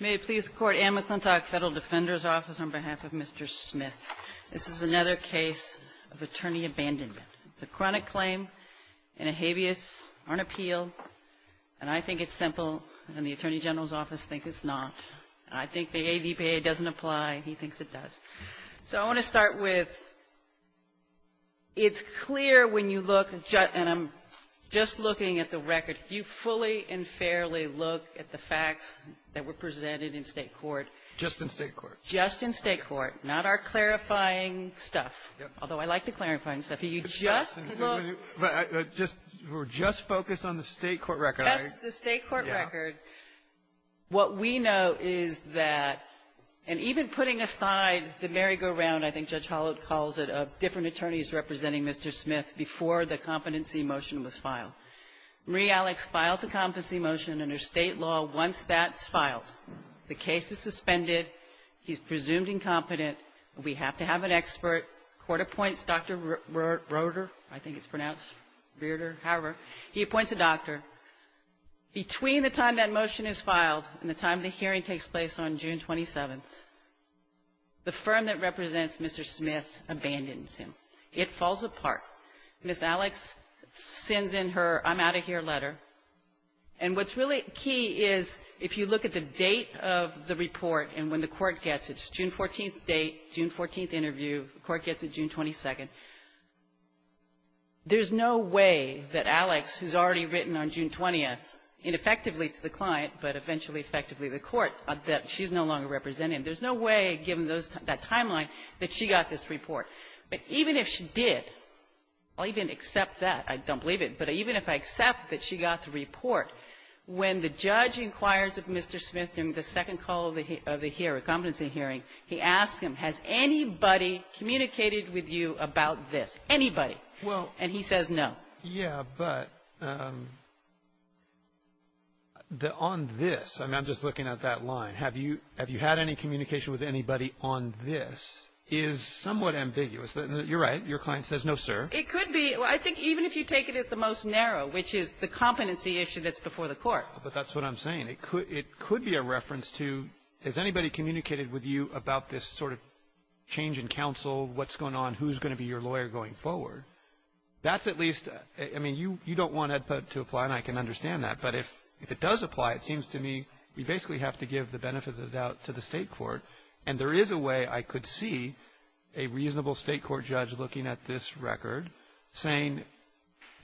May it please the Court, Anne McClintock, Federal Defender's Office, on behalf of Mr. Smith. This is another case of attorney abandonment. It's a chronic claim and a habeas on appeal. And I think it's simple, and the Attorney General's Office thinks it's not. I think the ADPA doesn't apply. He thinks it does. So I want to start with, it's clear when you look, and I'm just looking at the record. If you fully and fairly look at the facts that were presented in State court. Just in State court. Just in State court. Not our clarifying stuff, although I like the clarifying stuff. You just look. We're just focused on the State court record, aren't we? Yes, the State court record. What we know is that, and even putting aside the merry-go-round, I think Judge Holloway calls it, of different attorneys representing Mr. Smith before the competency motion was filed. Marie Alex files a competency motion under State law once that's filed. The case is suspended. He's presumed incompetent. We have to have an expert. Court appoints Dr. Reuter. I think it's pronounced Reuter. However, he appoints a doctor. Between the time that motion is filed and the time the hearing takes place on June 27th, the firm that represents Mr. Smith abandons him. It falls apart. Ms. Alex sends in her I'm-out-of-here letter. And what's really key is if you look at the date of the report and when the court gets it, it's June 14th date, June 14th interview, the court gets it June 22nd. There's no way that Alex, who's already written on June 20th, ineffectively to the client, but eventually effectively the court, that she's no longer representing him. There's no way, given that timeline, that she got this report. But even if she did, I'll even accept that, I don't believe it, but even if I accept that she got the report, when the judge inquires of Mr. Smith during the second call of the hearing, competency hearing, he asks him, has anybody communicated with you about this? Anybody. Well. And he says no. Yeah, but on this, I'm just looking at that line, have you had any communication with anybody on this, is somewhat ambiguous. You're right, your client says no, sir. It could be, I think even if you take it at the most narrow, which is the competency issue that's before the court. But that's what I'm saying, it could be a reference to, has anybody communicated with you about this sort of change in counsel, what's going on, who's going to be your lawyer going forward? That's at least, I mean, you don't want to apply, and I can understand that, but if it does apply, it seems to me we basically have to give the benefit of the doubt to the state court. And there is a way I could see a reasonable state court judge looking at this record, saying,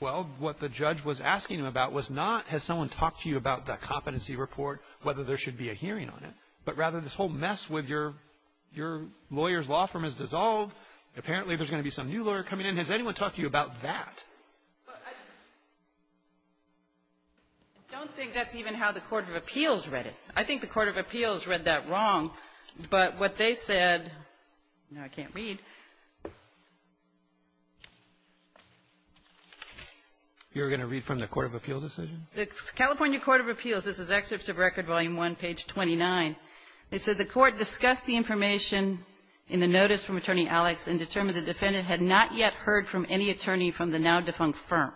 well, what the judge was asking him about was not, has someone talked to you about the competency report, whether there should be a hearing on it, but rather this whole mess with your lawyer's law firm is dissolved, apparently there's going to be some new lawyer coming in, has anyone talked to you about that? But I don't think that's even how the Court of Appeals read it. I think the Court of Appeals read that wrong, but what they said, now I can't read. You're going to read from the Court of Appeals decision? The California Court of Appeals, this is Excerpts of Record, Volume 1, page 29. They said the Court discussed the information in the notice from Attorney Alex and determined that the defendant had not yet heard from any attorney from the now-defunct firm.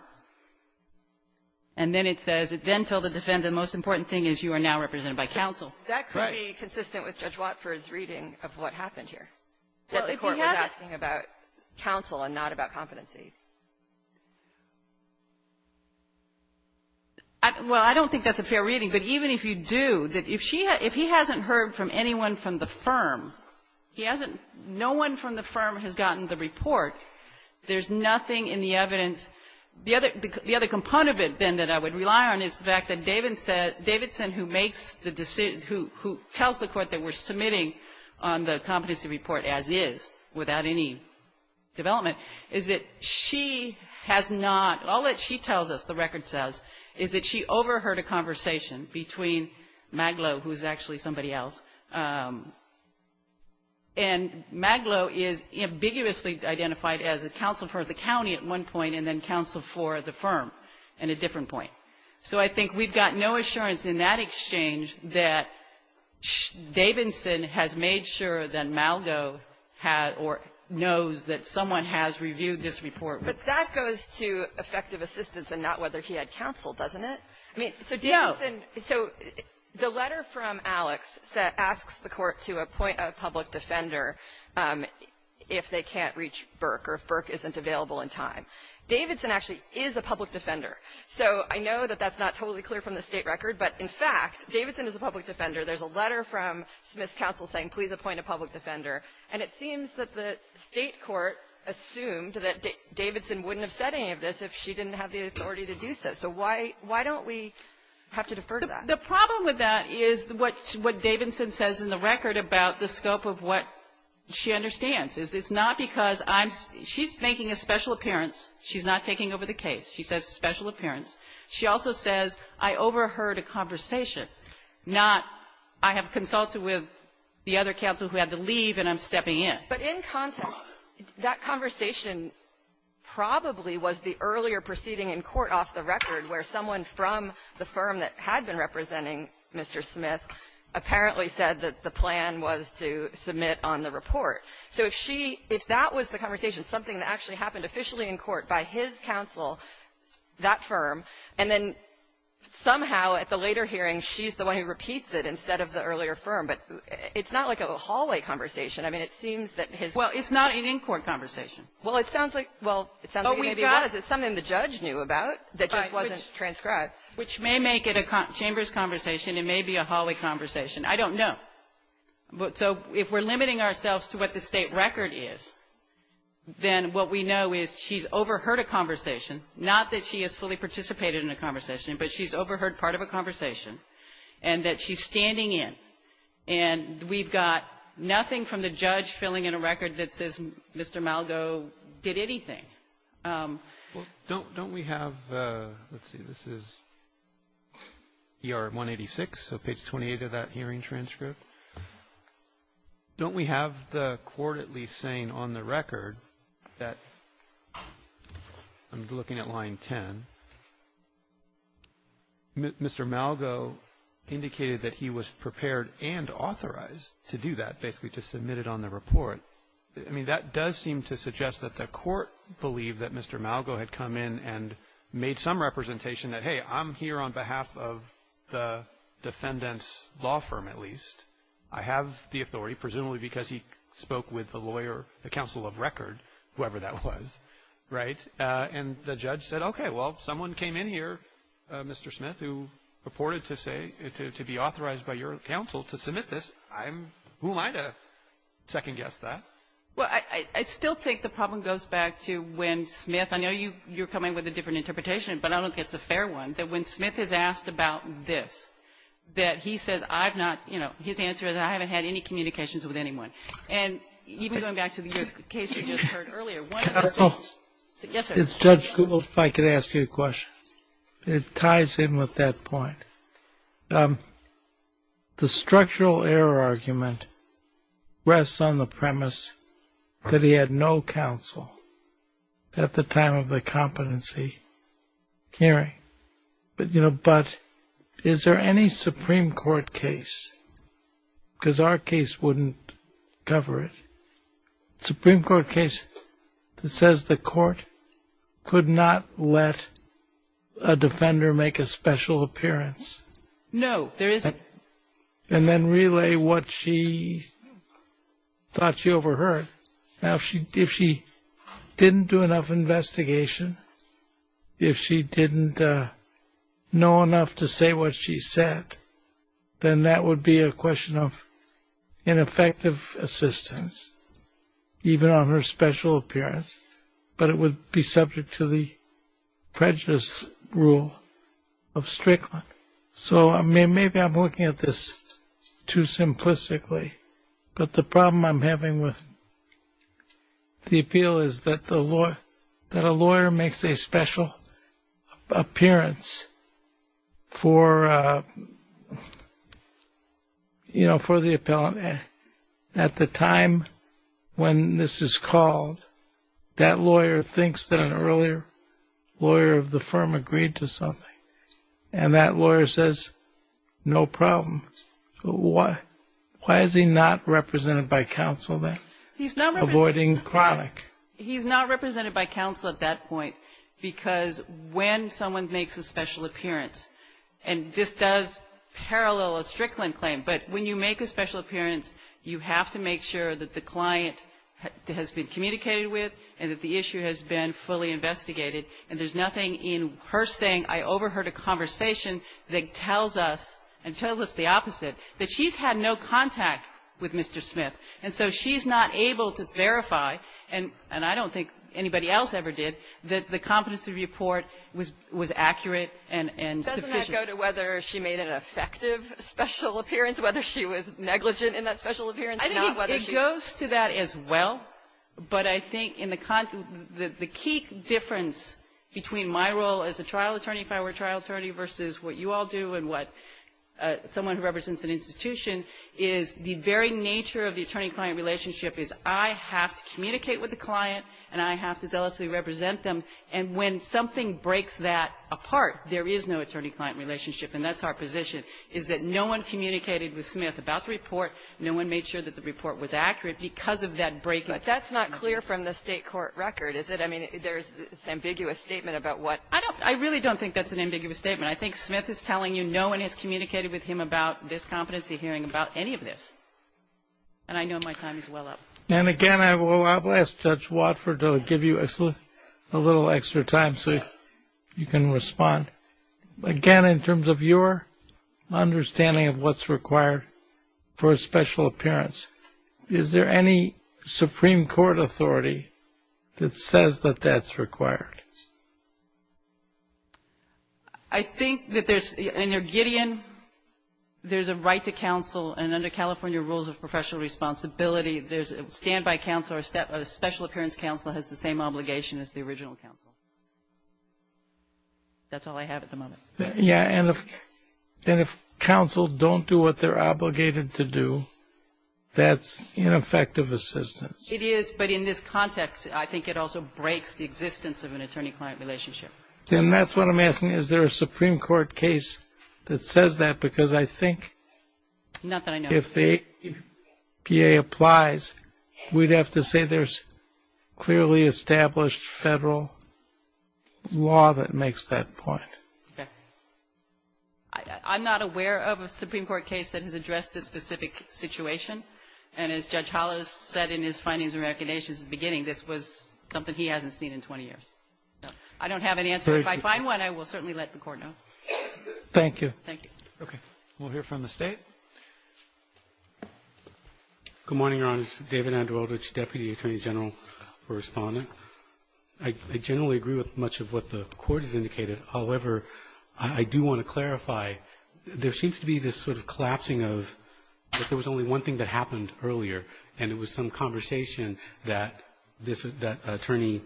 And then it says, it then told the defendant, the most important thing is you are now represented by counsel. That could be consistent with Judge Watford's reading of what happened here, that the court was asking about counsel and not about competency. Well, I don't think that's a fair reading, but even if you do, if he hasn't heard from anyone from the firm, he hasn't, no one from the firm has gotten the report. There's nothing in the evidence. The other component of it, then, that I would rely on is the fact that Davidson, who tells the court that we're submitting on the competency report as is, without any development, is that she has not, all that she tells us, the record says, is that she overheard a conversation between Maglo, who's actually somebody else, and Maglo is ambiguously identified as a counsel for the county at one point, and then counsel for the firm at a different point. So I think we've got no assurance in that exchange that Davidson has made sure that Malgo had, or knows that someone has reviewed this report. But that goes to effective assistance and not whether he had counsel, doesn't it? I mean, so Davidson, so the letter from Alex asks the court to appoint a public defender if they can't reach Burke or if Burke isn't available in time. Davidson actually is a public defender. So I know that that's not totally clear from the State record, but in fact, Davidson is a public defender. There's a letter from Smith's counsel saying, please appoint a public defender. And it seems that the State court assumed that Davidson wouldn't have said any of this if she didn't have the authority to do so. So why don't we have to defer to that? The problem with that is what Davidson says in the record about the scope of what she understands. It's not because I'm — she's making a special appearance. She's not taking over the case. She says a special appearance. She also says, I overheard a conversation, not I have consulted with the other counsel who had to leave, and I'm stepping in. But in context, that conversation probably was the earlier proceeding in court off the record where someone from the firm that had been representing Mr. Smith apparently said that the plan was to submit on the report. So if she — if that was the conversation, something that actually happened officially in court by his counsel, that firm, and then somehow at the later hearing, she's the one who repeats it instead of the earlier firm, but it's not like a hallway conversation. I mean, it seems that his — Well, it's not an in-court conversation. Well, it sounds like — well, it sounds like it maybe was. It's something the judge knew about that just wasn't transcribed. Which may make it a chamber's conversation. It may be a hallway conversation. I don't know. So if we're limiting ourselves to what the State record is, then what we know is she's overheard a conversation, not that she has fully participated in a conversation, but she's overheard part of a conversation, and that she's standing in, and we've got nothing from the judge filling in a record that says Mr. Malgo did anything. Well, don't we have — let's see. This is ER 186, so page 28 of that hearing transcript. Don't we have the court at least saying on the record that — I'm looking at line 10, Mr. Malgo indicated that he was prepared and authorized to do that, basically, to submit it on the report. I mean, that does seem to suggest that the court believed that Mr. Malgo had come in and made some representation that, hey, I'm here on behalf of the defendant's law firm, at least. I have the authority, presumably because he spoke with the lawyer, the counsel of record, whoever that was, right? And the judge said, okay, well, someone came in here, Mr. Smith, who purported to say, to be authorized by your counsel to submit this. I'm — who am I to second-guess that? Well, I still think the problem goes back to when Smith — I know you're coming with a different interpretation, but I don't think it's a fair one — that when Smith is asked about this, that he says, I've not — you know, his answer is, I haven't had any communications with anyone. And even going back to the case you just heard earlier, one of the things — It's — Judge Gould, if I could ask you a question. It ties in with that point. The structural error argument rests on the premise that he had no counsel at the time of the competency hearing. But, you know, but is there any Supreme Court case — because our case wouldn't cover it — Supreme Court case that says the court could not let a defender make a special appearance? No, there isn't. And then relay what she thought she overheard. Now, if she didn't do enough investigation, if she didn't know enough to say what she said, then that would be a question of ineffective assistance, even on her special appearance. But it would be subject to the prejudice rule of Strickland. So maybe I'm looking at this too simplistically, but the problem I'm having with the appeal is that a lawyer makes a special appearance for, you know, for the appellant. At the time when this is called, that lawyer thinks that an earlier lawyer of the firm agreed to something. And that lawyer says, no problem. Why is he not represented by counsel then? Avoiding chronic. He's not represented by counsel at that point because when someone makes a special appearance, and this does parallel a Strickland claim, but when you make a special appearance, you have to make sure that the client has been communicated with and that the issue has been fully investigated. And there's nothing in her saying, I overheard a conversation that tells us, and tells us the opposite, that she's had no contact with Mr. Smith. And so she's not able to verify, and I don't think anybody else ever did, that the competency report was accurate and sufficient. Doesn't that go to whether she made an effective special appearance, whether she was negligent in that special appearance? I think it goes to that as well, but I think the key difference between my role as a trial attorney, if I were a trial attorney, versus what you all do and what someone who represents an institution, is the very nature of the attorney-client relationship is I have to communicate with the client, and I have to zealously represent them. And when something breaks that apart, there is no attorney-client relationship, and that's our position, is that no one communicated with Smith about the report. No one made sure that the report was accurate because of that breaking. But that's not clear from the state court record, is it? I mean, there's this ambiguous statement about what? I don't, I really don't think that's an ambiguous statement. I think Smith is telling you no one has communicated with him about this competency hearing, about any of this, and I know my time is well up. And again, I will ask Judge Watford to give you a little extra time so you can respond. Again, in terms of your understanding of what's required for a special appearance, is there any Supreme Court authority that says that that's required? I think that there's, in your Gideon, there's a right to counsel, and under California rules of professional responsibility, there's a stand-by counsel, or a special appearance counsel has the same obligation as the original counsel. That's all I have at the moment. Yeah, and if counsel don't do what they're obligated to do, that's ineffective assistance. It is, but in this context, I think it also breaks the existence of an attorney-client relationship. Then that's what I'm asking. Is there a Supreme Court case that says that? Because I think if the APA applies, we'd have to say there's clearly established federal law that makes that point. Okay. I'm not aware of a Supreme Court case that has addressed this specific situation. And as Judge Holloway said in his findings and recognitions at the beginning, this was something he hasn't seen in 20 years. So I don't have an answer. If I find one, I will certainly let the Court know. Thank you. Thank you. Okay. We'll hear from the State. Good morning, Your Honors. David Andrelidge, Deputy Attorney General for Respondent. I generally agree with much of what the Court has indicated. However, I do want to clarify. There seems to be this sort of collapsing of that there was only one thing that happened earlier, and it was some conversation that this attorney,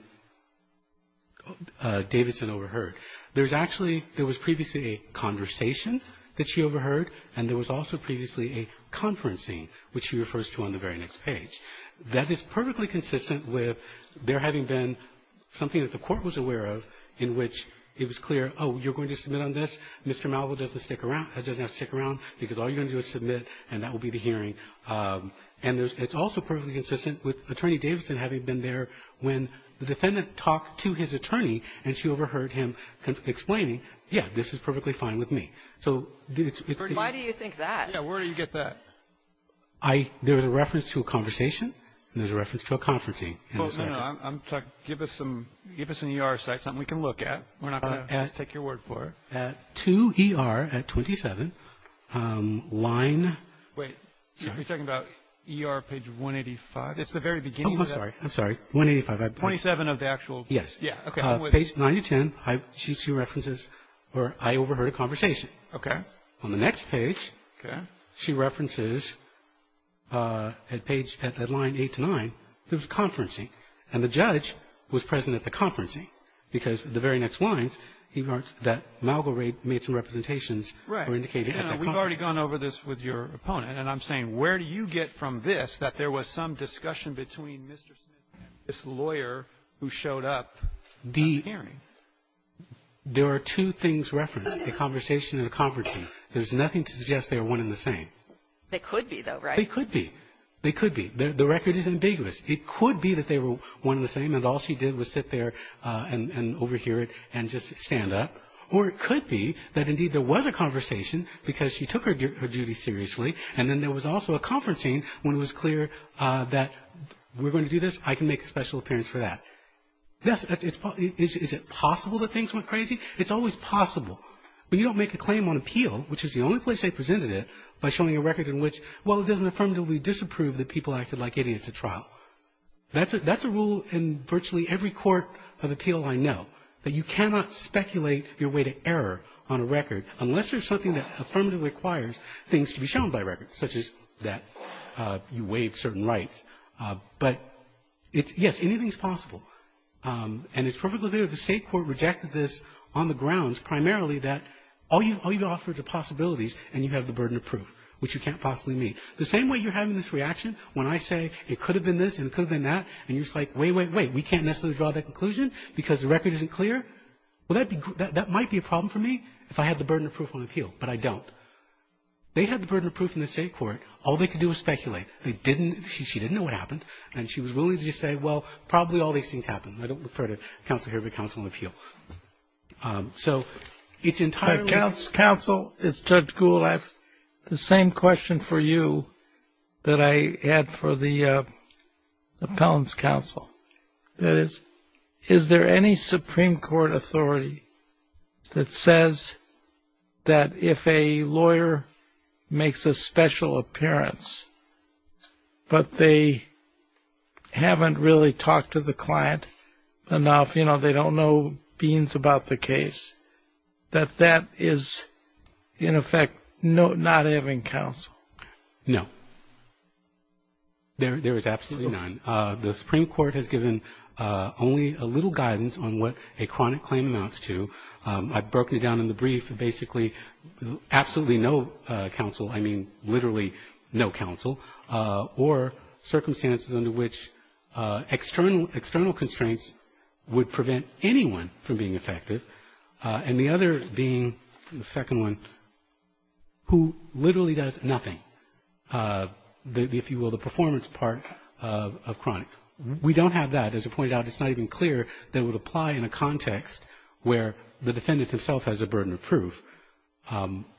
Davidson, overheard. There's actually – there was previously a conversation that she overheard, and there was also previously a conferencing, which she refers to on the very next page. That is perfectly consistent with there having been something that the Court was aware of in which it was clear, oh, you're going to submit on this. Mr. Malvo doesn't stick around – doesn't have to stick around because all you're going to do is submit, and that will be the hearing. And there's – it's also perfectly consistent with Attorney Davidson having been there when the defendant talked to his attorney, and she overheard him explaining, yeah, this is perfectly fine with me. So it's the – Why do you think that? Yeah. Where do you get that? I – there's a reference to a conversation, and there's a reference to a conferencing. Well, you know, I'm – give us some – give us an ER site, something we can look at. We're not going to take your word for it. At – to ER at 27, line – Wait. Sorry. Are you talking about ER page 185? It's the very beginning of that. Oh, I'm sorry. I'm sorry. 185, I apologize. 27 of the actual – Yes. Yeah. Okay. Page 9 to 10, I – she references where I overheard a conversation. Okay. On the next page – Okay. She references at page – at line 8 to 9, there's a conferencing. And the judge was present at the conferencing, because the very next lines, he heard that Malgaret made some representations or indicated at the conferencing. Right. You know, we've already gone over this with your opponent, and I'm saying, where do you get from this that there was some discussion between Mr. Smith and this lawyer who showed up at the hearing? The – there are two things referenced, a conversation and a conferencing. There's nothing to suggest they were one in the same. They could be, though, right? They could be. They could be. The record is ambiguous. It could be that they were one in the same and all she did was sit there and overhear it and just stand up. Or it could be that, indeed, there was a conversation because she took her duty seriously, and then there was also a conferencing when it was clear that we're going to do this, I can make a special appearance for that. Yes, it's – is it possible that things went crazy? It's always possible. But you don't make a claim on appeal, which is the only place I presented it, by showing a record in which, well, it doesn't affirmatively disapprove that people acted like idiots at trial. That's a – that's a rule in virtually every court of appeal I know, that you cannot speculate your way to error on a record unless there's something that affirmatively requires things to be shown by record, such as that you waive certain rights. But it's – yes, anything's possible. And it's perfectly clear. The State court rejected this on the grounds primarily that all you – all you've offered are possibilities, and you have the burden of proof, which you can't possibly mean. The same way you're having this reaction when I say it could have been this and it could have been that, and you're just like, wait, wait, wait. We can't necessarily draw that conclusion because the record isn't clear. Well, that might be a problem for me if I had the burden of proof on appeal, but I don't. They had the burden of proof in the State court. All they could do was speculate. They didn't – she didn't know what happened, and she was willing to just say, well, probably all these things happened. I don't refer to counsel here, but counsel on appeal. So it's entirely – Counsel, it's Judge Gould. I have the same question for you that I had for the appellant's counsel. That is, is there any Supreme Court authority that says that if a lawyer makes a special appearance but they haven't really talked to the client enough, you know, they don't know beans about the case, that that is, in effect, not having counsel? No. There is absolutely none. The Supreme Court has given only a little guidance on what a chronic claim amounts to. I've broken it down in the brief. Basically, absolutely no counsel, I mean literally no counsel, or circumstances under which external constraints would prevent anyone from being effective. And the other being, the second one, who literally does nothing, if you will, the performance part of chronic. We don't have that. As I pointed out, it's not even clear that it would apply in a context where the defendant himself has a burden of proof.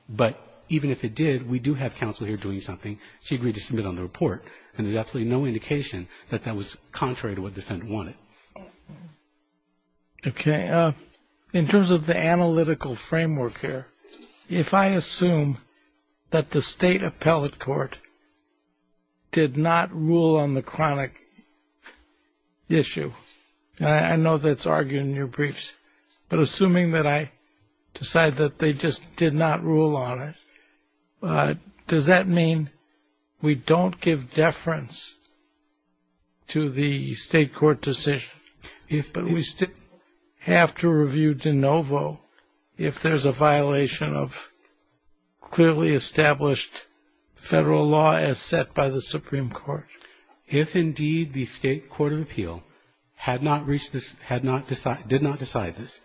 But even if it did, we do have counsel here doing something. She agreed to submit on the report. And there's absolutely no indication that that was contrary to what the defendant wanted. Okay. In terms of the analytical framework here, if I assume that the State Appellate Court did not rule on the chronic issue, and I know that's argued in your briefs, but assuming that I decide that they just did not rule on it, does that mean we don't give deference to the state court decision, but we still have to review de novo if there's a violation of clearly established federal law as set by the Supreme Court? If indeed the State Court of Appeal did not decide this,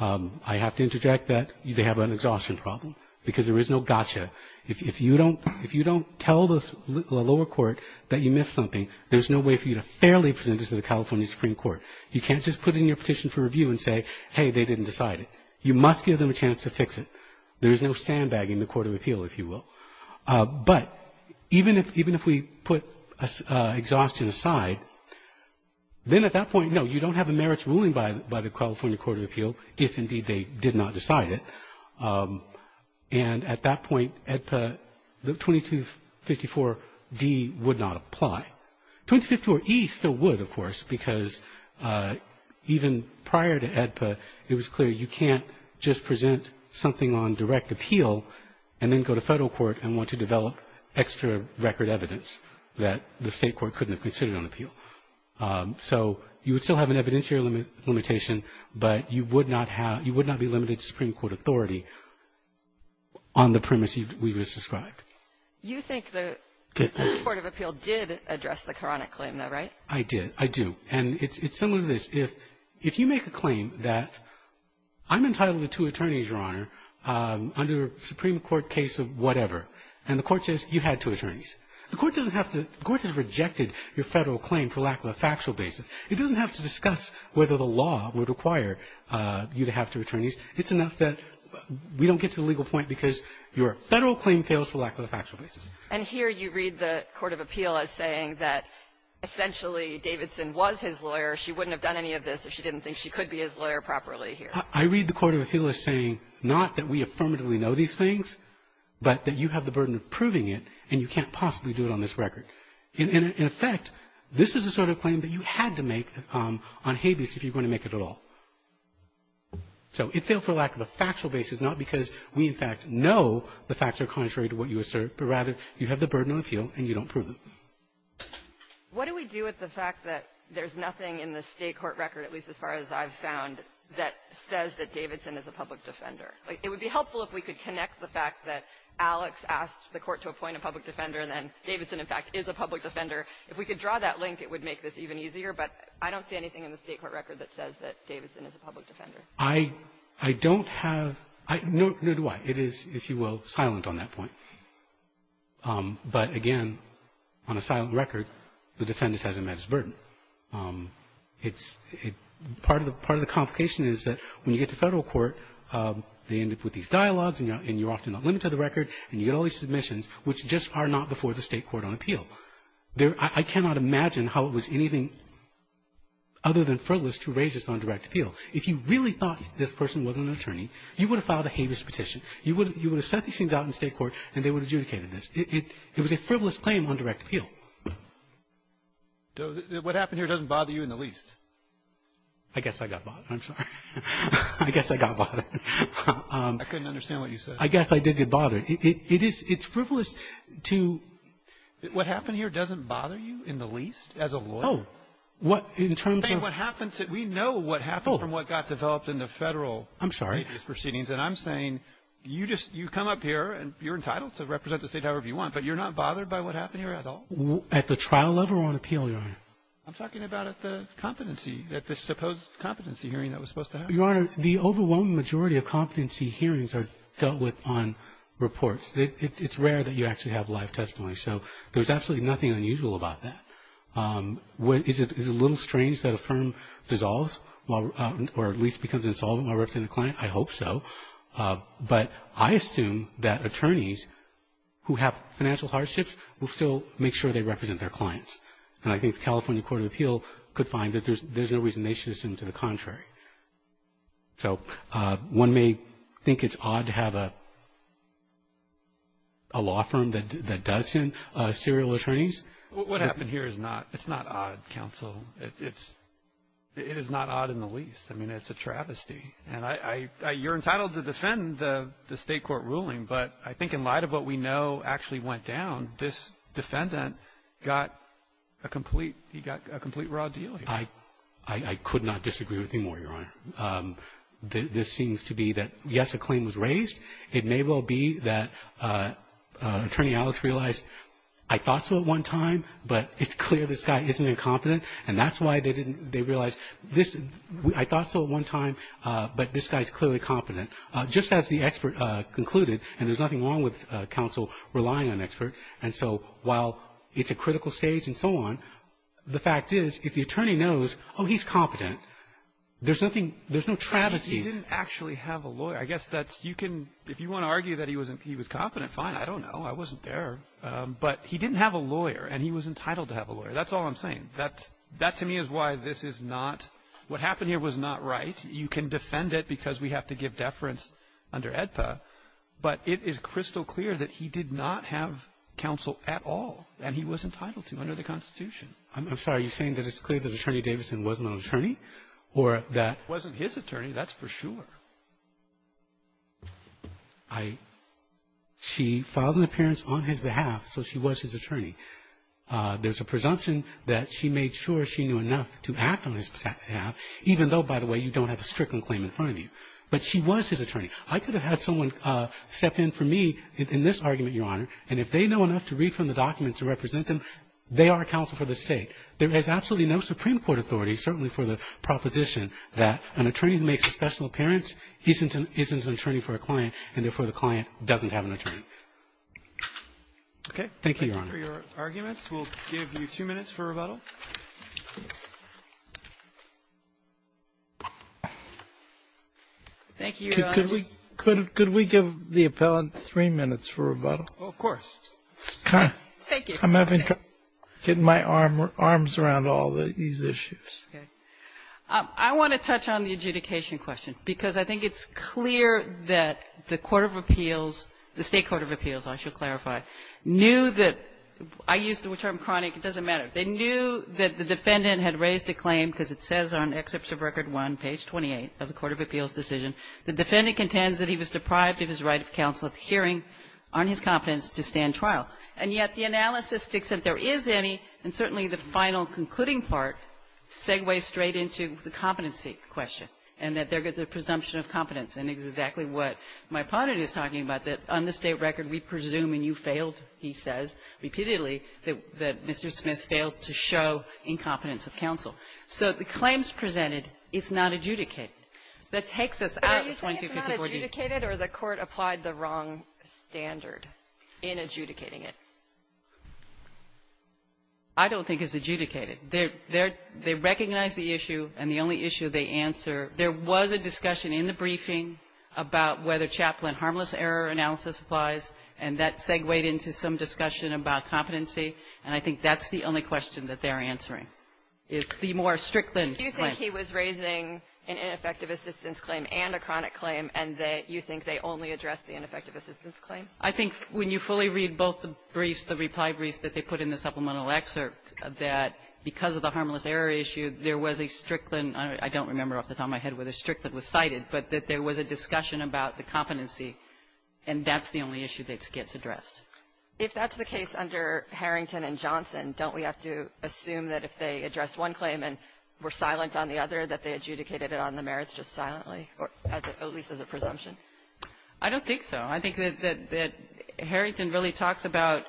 I have to interject that they have an exhaustion problem, because there is no gotcha. If you don't tell the lower court that you missed something, there's no way for you to fairly present this to the California Supreme Court. You can't just put in your petition for review and say, hey, they didn't decide it. You must give them a chance to fix it. There's no sandbagging the Court of Appeal, if you will. But even if we put exhaustion aside, then at that point, no, you don't have a merits ruling by the California Court of Appeal, if indeed they did not decide it. And at that point, AEDPA, the 2254d would not apply. 2254e still would, of course, because even prior to AEDPA, it was clear you can't just present something on direct appeal and then go to Federal court and want to develop extra record evidence that the State court couldn't have considered on appeal. So you would still have an evidentiary limitation, but you would not have you would not be limited to Supreme Court authority on the premise we just described. You think the Court of Appeal did address the Quranic claim, though, right? I did. And it's similar to this. If you make a claim that I'm entitled to two attorneys, Your Honor, under a Supreme Court case of whatever, and the Court says you had two attorneys, the Court doesn't have to the Court has rejected your Federal claim for lack of a factual basis. It doesn't have to discuss whether the law would require you to have two attorneys. It's enough that we don't get to the legal point because your Federal claim fails for lack of a factual basis. And here you read the Court of Appeal as saying that essentially Davidson was his lawyer. She wouldn't have done any of this if she didn't think she could be his lawyer properly here. I read the Court of Appeal as saying not that we affirmatively know these things, but that you have the burden of proving it, and you can't possibly do it on this record. In effect, this is the sort of claim that you had to make on habeas if you're going to make it at all. So it failed for lack of a factual basis, not because we, in fact, know the facts are contrary to what you assert, but rather you have the burden of appeal and you don't prove it. What do we do with the fact that there's nothing in the State court record, at least as far as I've found, that says that Davidson is a public defender? It would be helpful if we could connect the fact that Alex asked the Court to appoint a public defender, and then Davidson, in fact, is a public defender. If we could draw that link, it would make this even easier, but I don't see anything in the State court record that says that Davidson is a public defender. Robertson, I don't have no idea why. It is, if you will, silent on that point. But again, on a silent record, the defendant hasn't met his burden. It's part of the complication is that when you get to Federal court, they end up with these dialogues, and you're often not limited to the record, and you get all these I cannot imagine how it was anything other than frivolous to raise this on direct appeal. If you really thought this person was an attorney, you would have filed a habeas petition. You would have sent these things out in the State court, and they would have adjudicated this. It was a frivolous claim on direct appeal. Roberts. What happened here doesn't bother you in the least. I guess I got bothered. I'm sorry. I guess I got bothered. I couldn't understand what you said. I guess I did get bothered. It is frivolous to What happened here doesn't bother you in the least as a lawyer. Oh. What, in terms of I'm saying what happens, we know what happened from what got developed in the Federal habeas proceedings. I'm sorry. And I'm saying you just, you come up here, and you're entitled to represent the State however you want, but you're not bothered by what happened here at all? At the trial level or on appeal, Your Honor? I'm talking about at the competency, at the supposed competency hearing that was supposed to happen. Your Honor, the overwhelming majority of competency hearings are dealt with on reports. It's rare that you actually have live testimony. So there's absolutely nothing unusual about that. Is it a little strange that a firm dissolves or at least becomes insolvent while representing a client? I hope so. But I assume that attorneys who have financial hardships will still make sure they represent their clients. And I think the California Court of Appeal could find that there's no reason they should assume to the contrary. So one may think it's odd to have a law firm that does send serial attorneys. What happened here is not odd, counsel. It is not odd in the least. I mean, it's a travesty. And you're entitled to defend the State court ruling, but I think in light of what we know actually went down, this defendant got a complete raw deal here. I could not disagree with you more, Your Honor. This seems to be that, yes, a claim was raised. It may well be that Attorney Alex realized, I thought so at one time, but it's clear this guy isn't incompetent. And that's why they didn't realize, I thought so at one time, but this guy is clearly competent. Just as the expert concluded, and there's nothing wrong with counsel relying on an expert, and so while it's a critical stage and so on, the fact is, if the attorney knows, oh, he's competent, there's nothing, there's no travesty. He didn't actually have a lawyer. I guess that's, you can, if you want to argue that he wasn't, he was competent, fine. I don't know. I wasn't there. But he didn't have a lawyer, and he was entitled to have a lawyer. That's all I'm saying. That's, that to me is why this is not, what happened here was not right. You can defend it because we have to give deference under AEDPA. But it is crystal clear that he did not have counsel at all, and he was entitled to under the Constitution. Roberts. I'm sorry. Are you saying that it's clear that Attorney Davidson wasn't an attorney or that he wasn't his attorney? That's for sure. She filed an appearance on his behalf, so she was his attorney. There's a presumption that she made sure she knew enough to act on his behalf, even though, by the way, you don't have a stricken claim in front of you. But she was his attorney. I could have had someone step in for me in this argument, Your Honor, and if they know enough to read from the documents to represent them, they are counsel for the State. There is absolutely no Supreme Court authority, certainly for the proposition that an attorney who makes a special appearance isn't an attorney for a client, and therefore the client doesn't have an attorney. Okay. Thank you, Your Honor. Thank you for your arguments. We'll give you two minutes for rebuttal. Thank you, Your Honor. Could we give the appellant three minutes for rebuttal? Of course. Thank you. I'm having trouble getting my arms around all these issues. Okay. I want to touch on the adjudication question, because I think it's clear that the Court of Appeals, the State Court of Appeals, I shall clarify, knew that I used the term chronic. It doesn't matter. They knew that the defendant had raised a claim, because it says on Excerpt of Record 1, page 28 of the Court of Appeals decision, the defendant contends that he was deprived of his right of counsel at the hearing on his competence to stand trial. And yet the analysis sticks that there is any, and certainly the final concluding part segues straight into the competency question, and that there is a presumption of competence, and it's exactly what my opponent is talking about, that on the State Court of Appeals, the defendant has failed to show incompetence of counsel. So the claims presented, it's not adjudicated. So that takes us out of 2254d. Are you saying it's not adjudicated, or the Court applied the wrong standard in adjudicating it? I don't think it's adjudicated. They recognize the issue, and the only issue they answer, there was a discussion in the briefing about whether chaplain harmless error analysis applies, and that is the only question that they're answering, is the more Strickland claim. Do you think he was raising an ineffective assistance claim and a chronic claim, and that you think they only addressed the ineffective assistance claim? I think when you fully read both the briefs, the reply briefs that they put in the supplemental excerpt, that because of the harmless error issue, there was a Strickland – I don't remember off the top of my head whether Strickland was cited, but that there was a discussion about the competency, and that's the only issue that gets addressed. If that's the case under Harrington and Johnson, don't we have to assume that if they addressed one claim and were silent on the other, that they adjudicated it on the merits just silently, or at least as a presumption? I don't think so. I think that Harrington really talks about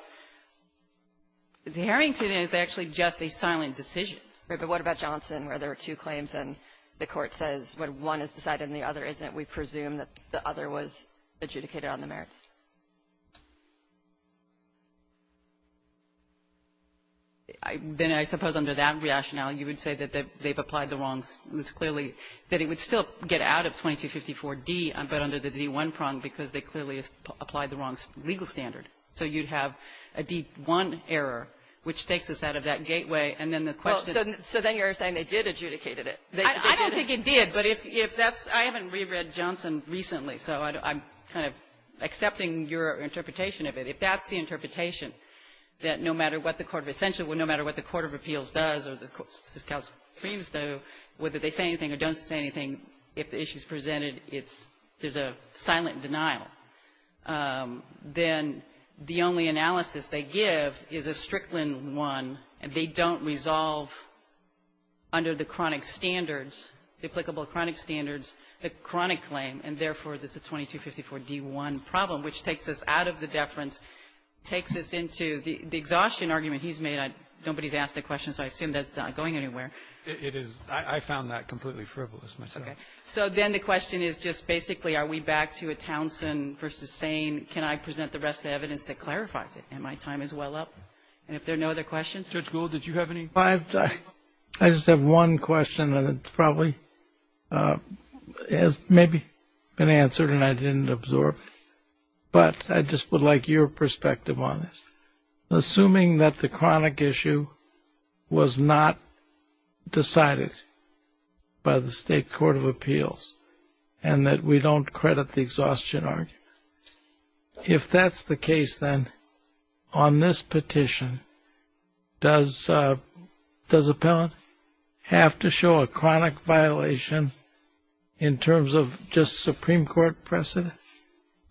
– Harrington is actually just a silent decision. Right. But what about Johnson, where there are two claims, and the Court says when one is decided and the other isn't, we presume that the other was adjudicated on the merits? Then I suppose under that rationale, you would say that they've applied the wrong – it's clearly – that it would still get out of 2254D, but under the D1 prong, because they clearly applied the wrong legal standard. So you'd have a D1 error, which takes us out of that gateway, and then the question – Well, so then you're saying they did adjudicate it. I don't think it did, but if that's – I haven't reread Johnson recently, so I'm kind of accepting your interpretation of it. If that's the interpretation, that no matter what the court of – essentially no matter what the court of appeals does or the courts of counsel claims, though, whether they say anything or don't say anything, if the issue is presented, it's – there's a silent denial. Then the only analysis they give is a Strickland one, and they don't resolve under the chronic standards, the applicable chronic standards, the chronic claim, and therefore it's a 2254D1 problem, which takes us out of the deference, takes us into the exhaustion argument he's made. Nobody's asked a question, so I assume that's not going anywhere. It is – I found that completely frivolous myself. Okay. So then the question is just basically are we back to a Townsend versus Sain? Can I present the rest of the evidence that clarifies it? And my time is well up. And if there are no other questions? Judge Gould, did you have any? I just have one question, and it's probably has maybe been answered and I didn't absorb, but I just would like your perspective on this. Assuming that the chronic issue was not decided by the state court of appeals and that we don't credit the exhaustion argument, if that's the case, then, on this petition, does appellant have to show a chronic violation in terms of just Supreme Court precedent,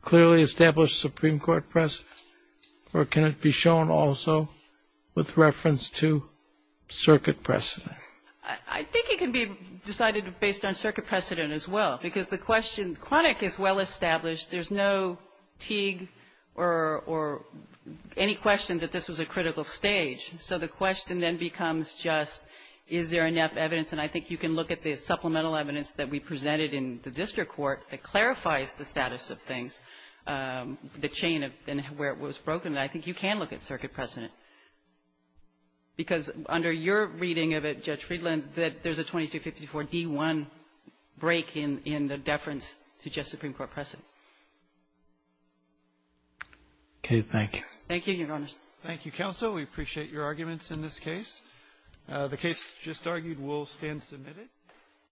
clearly established Supreme Court precedent, or can it be shown also with reference to circuit precedent? I think it can be decided based on circuit precedent as well, because the question – chronic is well established. There's no Teague or any question that this was a critical stage. So the question then becomes just is there enough evidence, and I think you can look at the supplemental evidence that we presented in the district court that clarifies the status of things, the chain of where it was broken. I think you can look at circuit precedent, because under your reading of it, Judge Friedland, there's a 2254d1 break in the deference to just Supreme Court precedent. Okay. Thank you. Thank you, Your Honors. Thank you, counsel. We appreciate your arguments in this case. The case just argued will stand submitted.